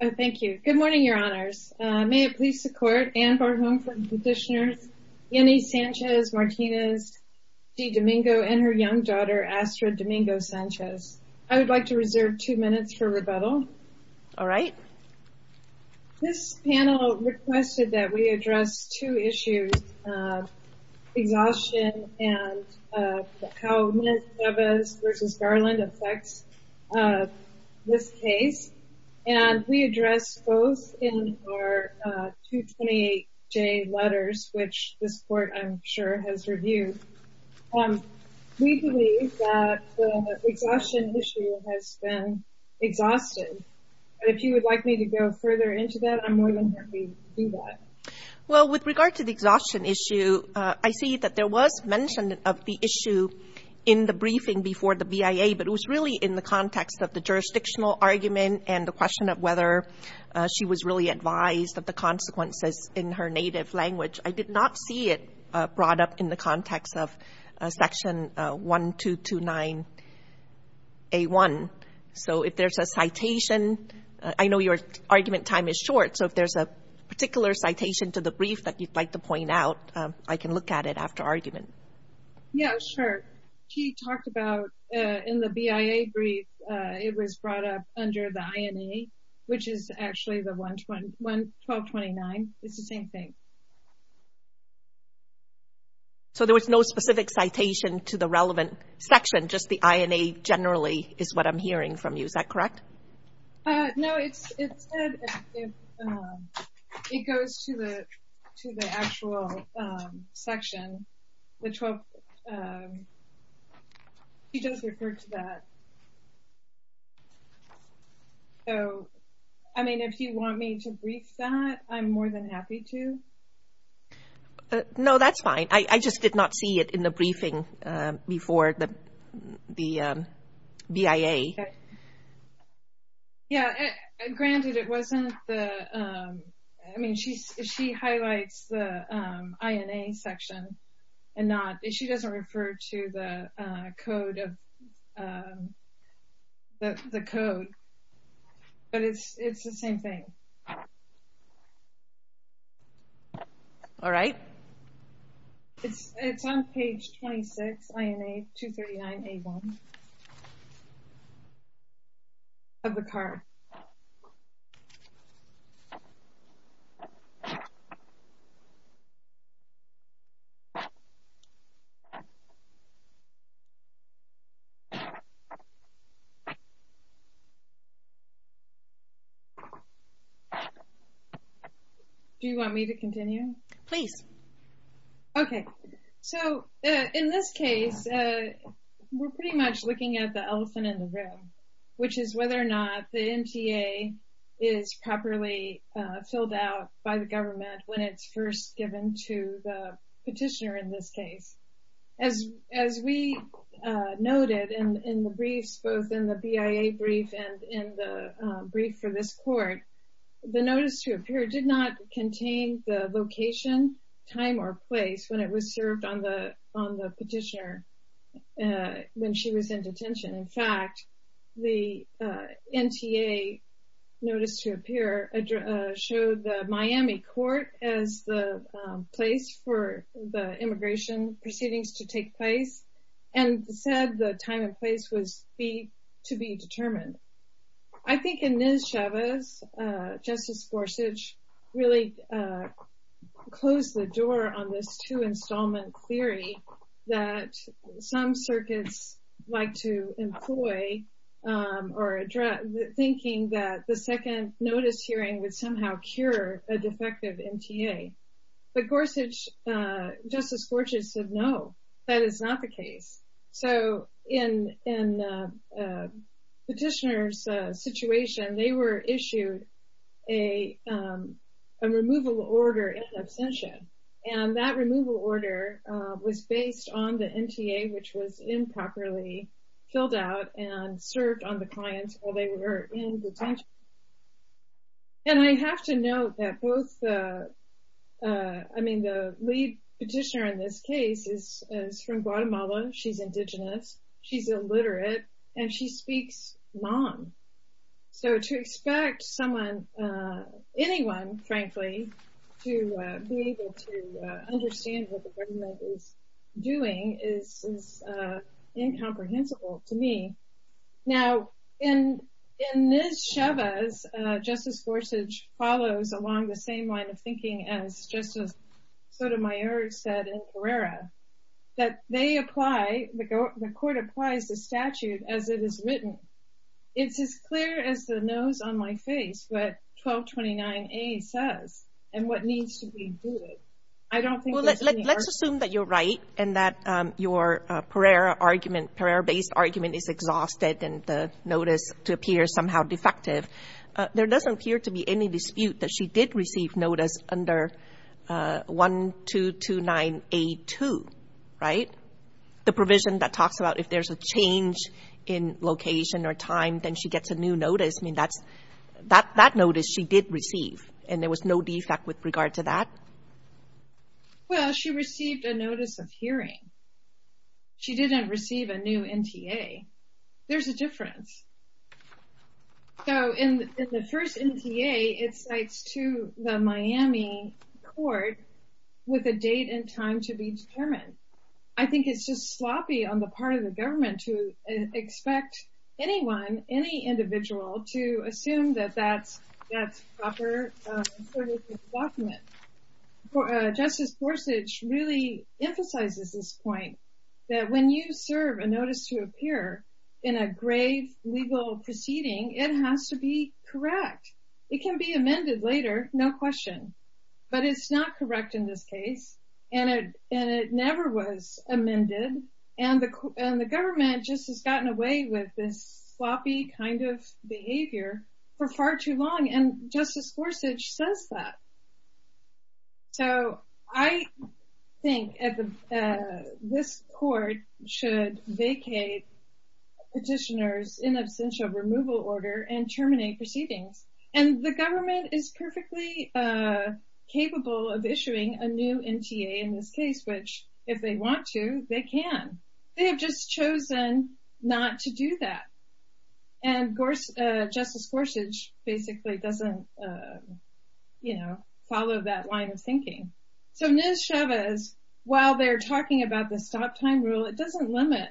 Thank you. Good morning, Your Honors. May it please the court, Anne Barhom for the petitioners, Yenny Sanchez Martinez De Domingo and her young daughter Astra Domingo Sanchez. I would like to reserve two minutes for rebuttal. All right. This panel requested that we address two issues, exhaustion and how Ms. Chavez v. Garland affects this case. And we addressed both in our 228J letters, which this court, I'm sure, has reviewed. And we believe that the exhaustion issue has been exhausted. And if you would like me to go further into that, I'm more than happy to do that. Well, with regard to the exhaustion issue, I see that there was mention of the issue in the briefing before the VIA, but it was really in the context of the jurisdictional argument and the question of whether she was really advised of the consequences in her native language. I did not see it brought up in the context of Section 1229A1. So, if there's a citation, I know your argument time is short. So, if there's a particular citation to the brief that you'd like to point out, I can look at it after argument. Yeah, sure. She talked about in the VIA brief, it was brought up under the INA, which is actually the 1229. It's the same thing. So, there was no specific citation to the relevant section, just the INA generally is what I'm hearing from you. Is that correct? No, it goes to the actual section, the 12. She just referred to that. So, I mean, if you want me to brief that, I'm more than happy to. No, that's fine. I just did not see it in the briefing before the VIA. Yeah, granted, it wasn't the, I mean, she highlights the INA section and not, she doesn't refer to the code of, the code, but it's the same thing. All right. It's on page 26, INA 239A1. Do you want me to continue? Please. Okay. So, in this case, we're pretty much looking at the elephant in the room, which is whether or not the MTA is properly filled out by the government when it's first given to the petitioner in this case. As we noted in the briefs, both in the BIA brief and in the brief for this court, the notice to appear did not contain the location, time, or place when it was served on the petitioner when she was in detention. In fact, the MTA notice to appear showed the Miami court as the place for the immigration proceedings to take place and said the time and place was to be determined. I think in Ms. Chavez, Justice Gorsuch really closed the door on this two installment theory that some circuits like to employ or address, thinking that the second notice hearing would somehow cure a defective MTA. But Gorsuch, Justice Gorsuch said, no, that is not the case. So, in the petitioner's situation, they were issued a removal order in absentia, and that removal order was based on the MTA, which was improperly filled out and served on the client while they were in detention. And I have to note that both, I mean, the lead petitioner in this case is from Guatemala, she's indigenous, she's illiterate, and she speaks non-English. So, to expect someone, anyone, frankly, to be able to understand what the government is doing is incomprehensible to me. Now, in Ms. Chavez, Justice Gorsuch follows along the same line of thinking as Justice Sotomayor said in Pereira, that they apply, the court applies the statute as it is written. It's as clear as the nose on my face what 1229A says and what needs to be done. I don't think there's any argument. Well, let's assume that you're right and that your Pereira argument, Pereira-based argument is exhausted and the notice to appear somehow defective. There doesn't appear to be any dispute that she did receive notice under 1229A2, right? The provision that talks about if there's a change in location or time, then she gets a new notice. I mean, that's, that notice she did receive, and there was no defect with regard to that. Well, she received a notice of hearing. She didn't receive a new NTA. There's a difference. So, in the first NTA, it cites to the Miami court with a date and time to be determined. I think it's just sloppy on the part of the government to expect anyone, any individual, to assume that that's, that's proper. And so does the document. Justice Gorsuch really emphasizes this point that when you serve a notice to appear in a grave legal proceeding, it has to be correct. It can be amended later, no question. But it's not correct in this case. And it never was amended. And the government just has gotten away with this sloppy kind of behavior for far too long. And Justice Gorsuch says that. So, I think this court should vacate petitioners in absentia removal order and terminate proceedings. And the government is perfectly capable of issuing a new NTA in this case, which if they want to, they can. They have just chosen not to do that. And Justice Gorsuch basically doesn't, you know, follow that line of thinking. So, Nez Chavez, while they're talking about the stop time rule, it doesn't limit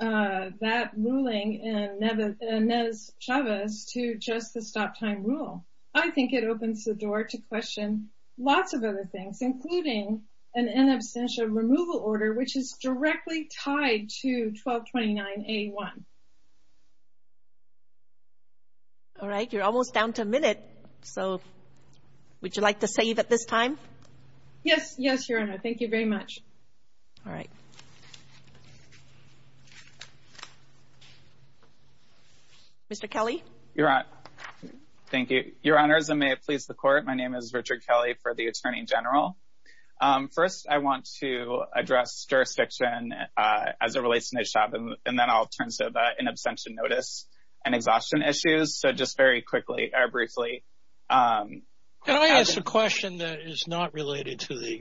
that ruling in Nez Chavez to just the stop time rule. I think it opens the door to question lots of other things, including an in absentia removal order, which is directly tied to 1229A1. All right. You're almost down to a minute. So, would you like to save at this time? Yes. Yes, Your Honor. Thank you very much. All right. Mr. Kelly. Your Honor. Thank you. Your Honors, and may it please the court, my name is Richard Kelly for the Attorney General. First, I want to address jurisdiction as it relates to Nez Chavez, and then I'll turn to in absentia notice and exhaustion issues. So, just very quickly, or briefly. Can I ask a question that is not related to the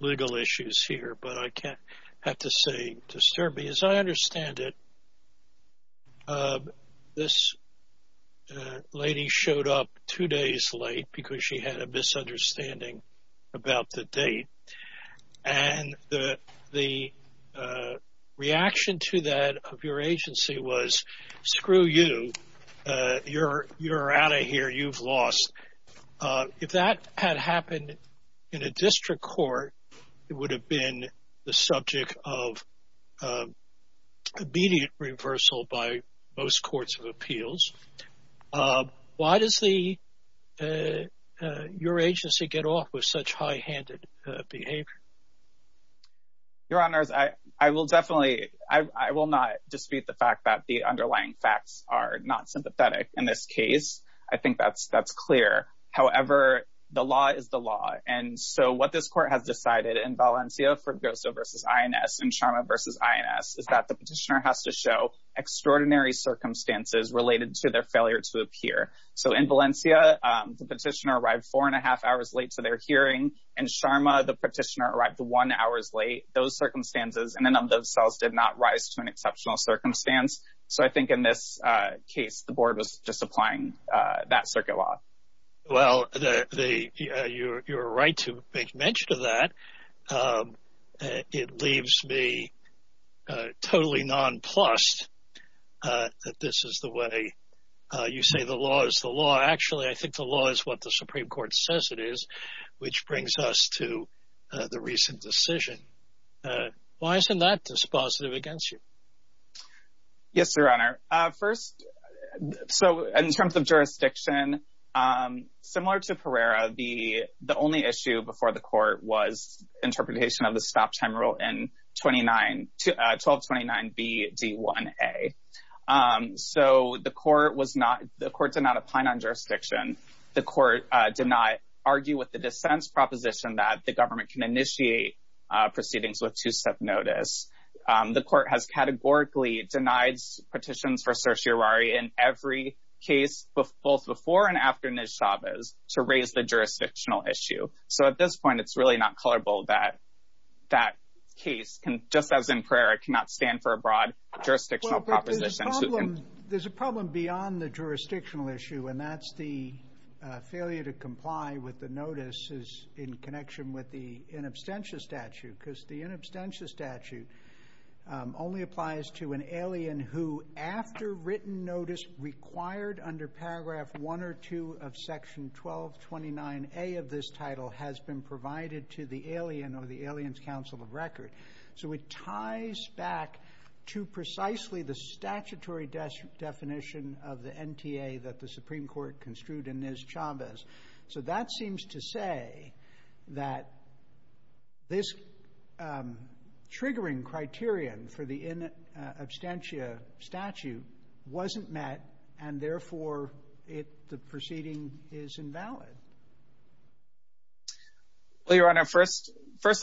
legal issues here, but I can't have to say, disturb me. As I understand it, this lady showed up two days late because she had a misunderstanding about the date. And the reaction to that of your agency was, screw you, you're out of here, you've lost. If that had happened in a district court, it would have been the subject of immediate reversal by most courts of appeals. Why does your agency get off with such high-handed behavior? Your Honors, I will definitely, I will not dispute the fact that the underlying facts are not sympathetic in this case. I think that's clear. However, the law is the law. And so, what this court has decided in Valencia for Grosso v. INS and Sharma v. INS is that the petitioner has to show extraordinary circumstances related to their failure to appear. So, in Valencia, the petitioner arrived four and a half hours late to their hearing. In Sharma, the petitioner arrived one hours late. Those circumstances, and none of those cells did not rise to an exceptional circumstance. So, I think in this case, the board was just applying that circuit law. Well, you're right to make mention of that. It leaves me totally nonplussed that this is the way you say the law is the law. Actually, I think the law is what the Supreme Court says it is, which brings us to the recent decision. Why isn't that dispositive against you? Yes, Your Honor. First, in terms of jurisdiction, similar to Pereira, the only issue before the court was interpretation of the stop time rule in 1229BD1A. So, the court did not opine on jurisdiction. The court did not argue with the dissent's proposition that the government can initiate proceedings with two-step notice. The court has categorically denied petitions for certiorari in every case, both before and after Nesh Chavez, to raise the jurisdictional issue. So, at this point, it's really not colorable that that case, just as in Pereira, cannot stand for a broad jurisdictional proposition. There's a problem beyond the jurisdictional issue, and that's the failure to comply with the notices in connection with the inabstentious statute. Because the inabstentious statute only applies to an alien who, after written notice, required under paragraph 1 or 2 of section 1229A of this title, has been provided to the alien or the alien's counsel of record. So, it ties back to precisely the statutory definition of the NTA that the Supreme Court construed in Nesh Chavez. So, that seems to say that this triggering criterion for the inabstentious statute wasn't met, and therefore, the proceeding is invalid. Well, Your Honor, first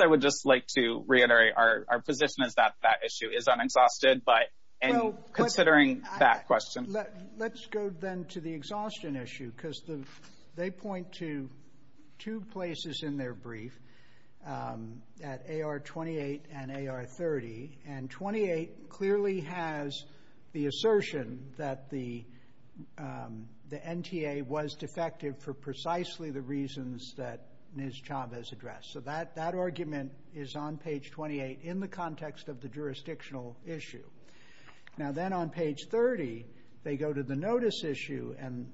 I would just like to reiterate our position is that that issue is unexhausted, but considering that question. Let's go then to the exhaustion issue, because they point to two places in their brief at AR 28 and AR 30, and 28 clearly has the assertion that the NTA was defective for precisely the reasons that Nesh Chavez addressed. So, that argument is on page 28 in the context of the jurisdictional issue. Now, then on page 30, they go to the notice issue, and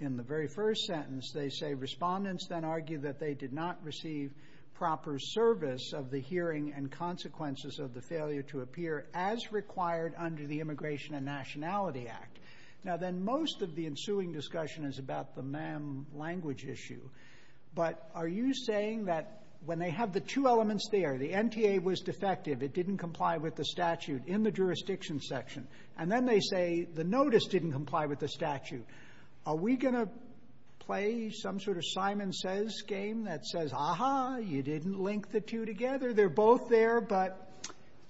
in the very first sentence, they say, Respondents then argue that they did not receive proper service of the hearing and consequences of the failure to appear, as required under the Immigration and Nationality Act. Now, then, most of the ensuing discussion is about the MAM language issue, but are you saying that when they have the two elements there, the NTA was defective, it didn't comply with the statute in the jurisdiction section, and then they say the notice didn't comply with the statute. Are we going to play some sort of Simon Says game that says, Aha, you didn't link the two together. They're both there, but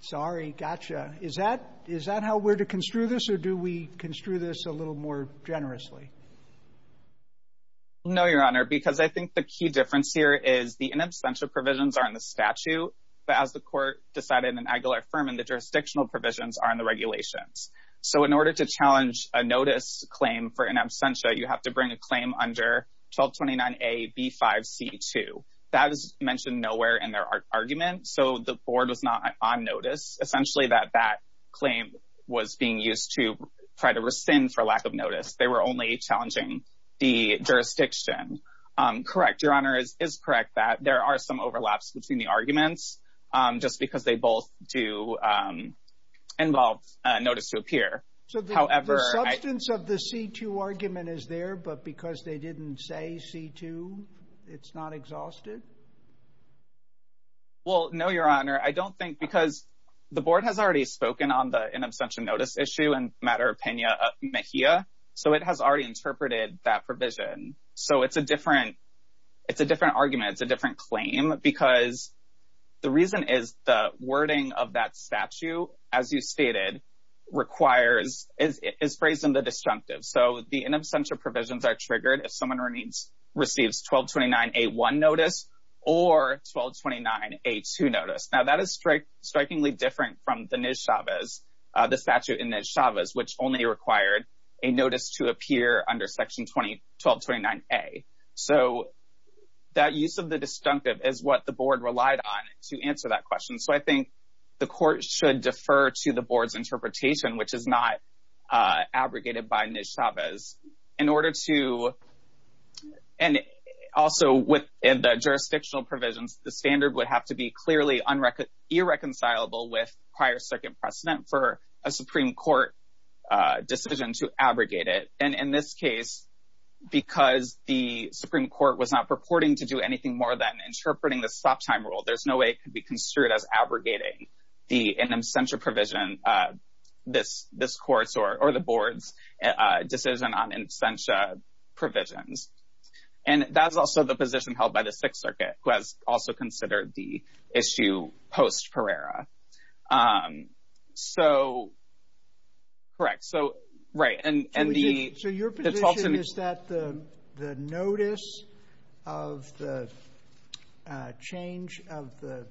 sorry, gotcha. Is that how we're to construe this, or do we construe this a little more generously? No, Your Honor, because I think the key difference here is the inabstantial provisions are in the statute, but as the court decided in Aguilar-Furman, the jurisdictional provisions are in the regulations. So, in order to challenge a notice claim for inabstantia, you have to bring a claim under 1229A.B.5.C.2. That is mentioned nowhere in their argument, so the board was not on notice. Essentially, that claim was being used to try to rescind for lack of notice. They were only challenging the jurisdiction. Correct, Your Honor, it is correct that there are some overlaps between the arguments, just because they both do involve notice to appear. So, the substance of the C.2. argument is there, but because they didn't say C.2., it's not exhausted? Well, no, Your Honor, I don't think, because the board has already spoken on the inabstantial notice issue in the matter of Pena-Mejia, so it has already interpreted that provision. So, it's a different argument, it's a different claim, because the reason is the wording of that statute, as you stated, is phrased in the disjunctive. So, the inabstantial provisions are triggered if someone receives 1229A.1 notice or 1229A.2 notice. Now, that is strikingly different from the statute in Nez Chavez, which only required a notice to appear under Section 1229A. So, that use of the disjunctive is what the board relied on to answer that question. So, I think the court should defer to the board's interpretation, which is not abrogated by Nez Chavez. In order to, and also within the jurisdictional provisions, the standard would have to be clearly irreconcilable with prior second precedent for a Supreme Court decision to abrogate it. And in this case, because the Supreme Court was not purporting to do anything more than interpreting the stop-time rule, there's no way it could be construed as abrogating the inabstantial provision, this court's or the board's decision on inabstantial provisions. And that's also the position held by the Sixth Circuit, who has also considered the issue post-Perera. So, correct. So, right. So, your position is that the notice of the change of the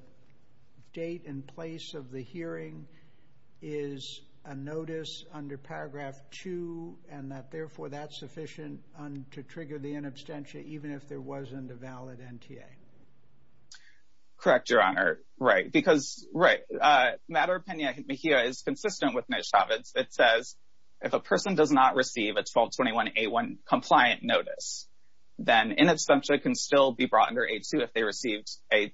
date and place of the hearing is a notice under Paragraph 2, and that, therefore, that's sufficient to trigger the inabstantial even if there wasn't a valid NTA? Correct, Your Honor. Right. Because, right, Maduro-Pena-Mejia is consistent with Nez Chavez. It says if a person does not receive a 1221-A1 compliant notice, then inabstantial can still be brought under A2 if they received an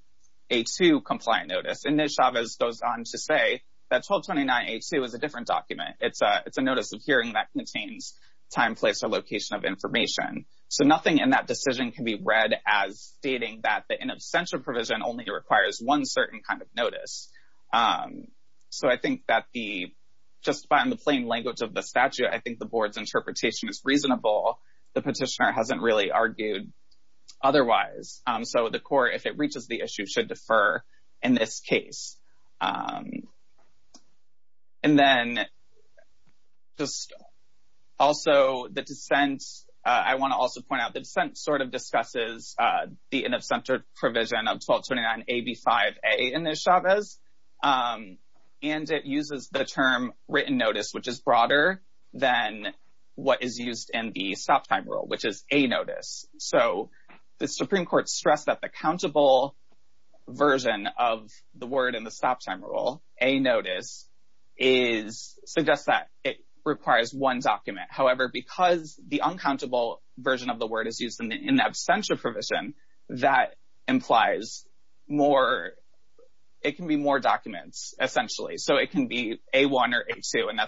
A2 compliant notice. And Nez Chavez goes on to say that 1229-A2 is a different document. It's a notice of hearing that contains time, place, or location of information. So, nothing in that decision can be read as stating that the inabstantial provision only requires one certain kind of notice. So, I think that just by the plain language of the statute, I think the board's interpretation is reasonable. The petitioner hasn't really argued otherwise. So, the court, if it reaches the issue, should defer in this case. And then, also, the dissent, I want to also point out, the dissent sort of discusses the inabstantial provision of 1229-AB5-A in Nez Chavez. And it uses the term written notice, which is broader than what is used in the stop time rule, which is a notice. So, the Supreme Court stressed that the countable version of the word in the stop time rule, a notice, suggests that it requires one document. However, because the uncountable version of the word is used in the inabstantial provision, that implies more, it can be more documents, essentially. So, it can be A1 or A2, and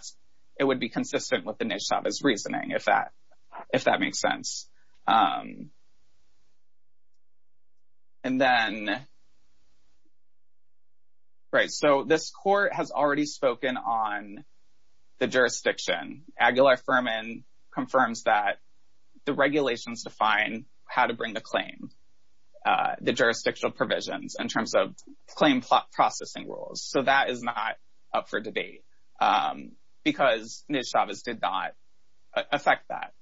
it would be consistent with Nez Chavez's reasoning, if that makes sense. And then, right, so this court has already spoken on the jurisdiction. Aguilar-Ferman confirms that the regulations define how to bring the claim, the jurisdictional provisions, in terms of claim processing rules. So, that is not up for debate, because Nez Chavez did not affect that.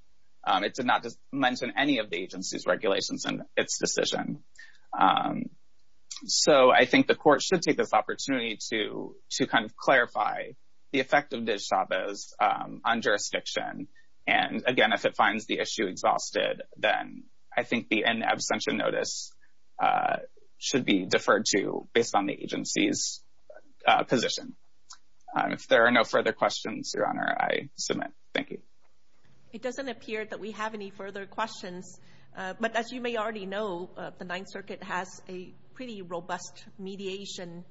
It did not mention any of the agency's regulations in its decision. So, I think the court should take this opportunity to kind of clarify the effect of Nez Chavez on jurisdiction. And, again, if it finds the issue exhausted, then I think the inabstantial notice should be deferred to, based on the agency's position. If there are no further questions, Your Honor, I submit. Thank you. It doesn't appear that we have any further questions, but as you may already know, the Ninth Circuit has a pretty robust mediation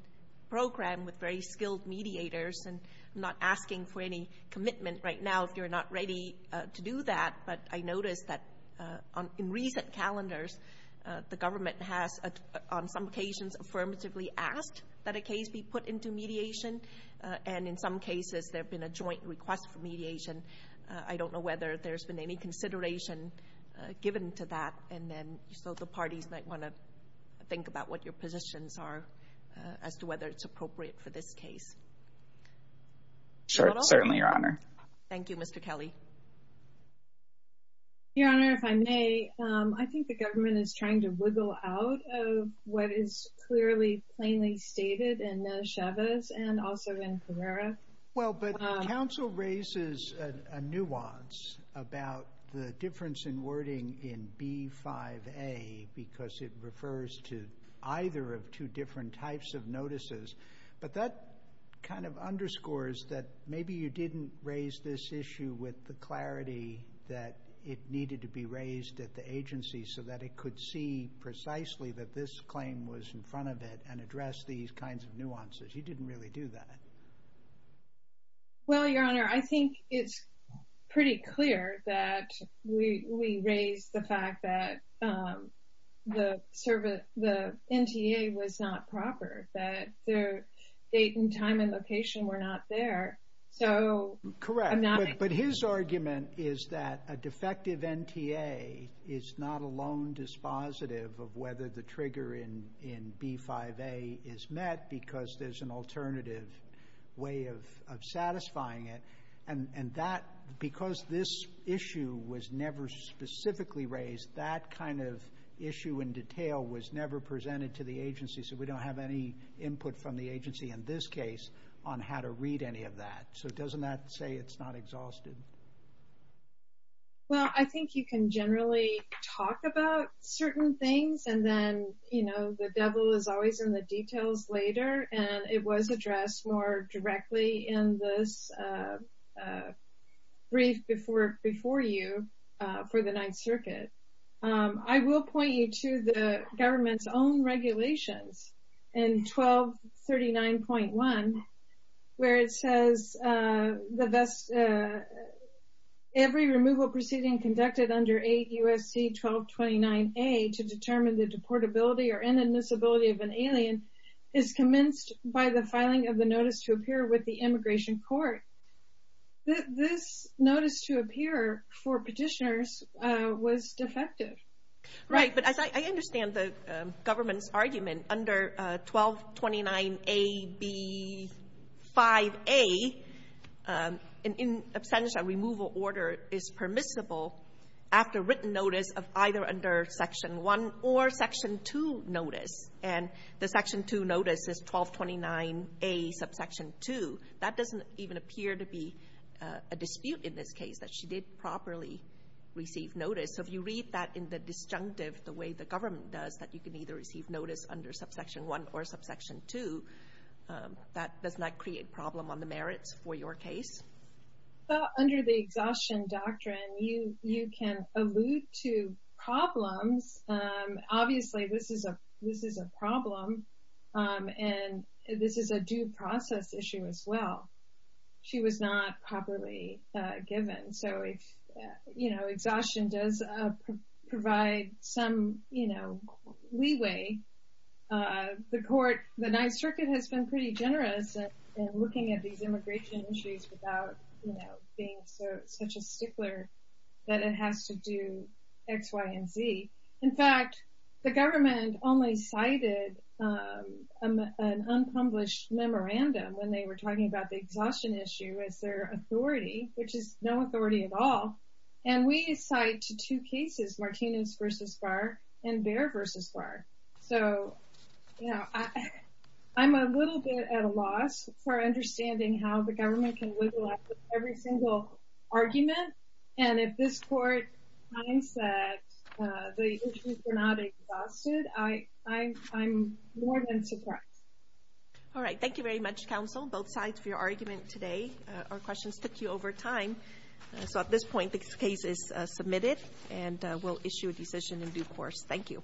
program with very skilled mediators, and I'm not asking for any commitment right now if you're not ready to do that, but I noticed that in recent calendars, the government has, on some occasions, affirmatively asked that a case be put into mediation, and in some cases, there have been a joint request for mediation. I don't know whether there's been any consideration given to that, and then, so the parties might want to think about what your positions are as to whether it's appropriate for this case. Certainly, Your Honor. Thank you, Mr. Kelly. Your Honor, if I may, I think the government is trying to wiggle out of what is clearly, plainly stated in Chavez and also in Carrera. Well, but counsel raises a nuance about the difference in wording in B5A because it refers to either of two different types of notices, but that kind of underscores that maybe you didn't raise this issue with the clarity that it needed to be raised at the agency so that it could see precisely that this claim was in front of it and address these kinds of nuances. You didn't really do that. Well, Your Honor, I think it's pretty clear that we raise the fact that the NTA was not proper, that the date and time and location were not there. Correct, but his argument is that a defective NTA is not alone dispositive of whether the trigger in B5A is met because there's an alternative way of satisfying it. And because this issue was never specifically raised, that kind of issue in detail was never presented to the agency, so we don't have any input from the agency in this case on how to read any of that. So doesn't that say it's not exhausted? Well, I think you can generally talk about certain things, and then the devil is always in the details later, and it was addressed more directly in this brief before you for the Ninth Circuit. I will point you to the government's own regulations in 1239.1 where it says every removal proceeding conducted under 8 U.S.C. 1229A to determine the deportability or inadmissibility of an alien is commenced by the filing of the notice to appear with the immigration court. This notice to appear for petitioners was defective. Right, but as I understand the government's argument, under 1229AB5A an abstention removal order is permissible after written notice of either under Section 1 or Section 2 notice, and the Section 2 notice is 1229A subsection 2. That doesn't even appear to be a dispute in this case that she did properly receive notice. So if you read that in the disjunctive the way the government does, that you can either receive notice under subsection 1 or subsection 2, that does not create problem on the merits for your case? Under the exhaustion doctrine, you can allude to problems. Obviously, this is a problem, and this is a due process issue as well. She was not properly given. So if exhaustion does provide some leeway, the Ninth Circuit has been pretty generous in looking at these immigration issues without being such a stickler that it has to do X, Y, and Z. In fact, the government only cited an unpublished memorandum when they were talking about the exhaustion issue as their authority, which is no authority at all. And we cite two cases, Martinez v. Barr and Bair v. Barr. So, you know, I'm a little bit at a loss for understanding how the government can wiggle out every single argument. And if this court finds that the issues were not exhausted, I'm more than surprised. All right. Thank you very much, counsel, both sides, for your argument today. Our questions took you over time. So at this point, the case is submitted, and we'll issue a decision in due course. Thank you.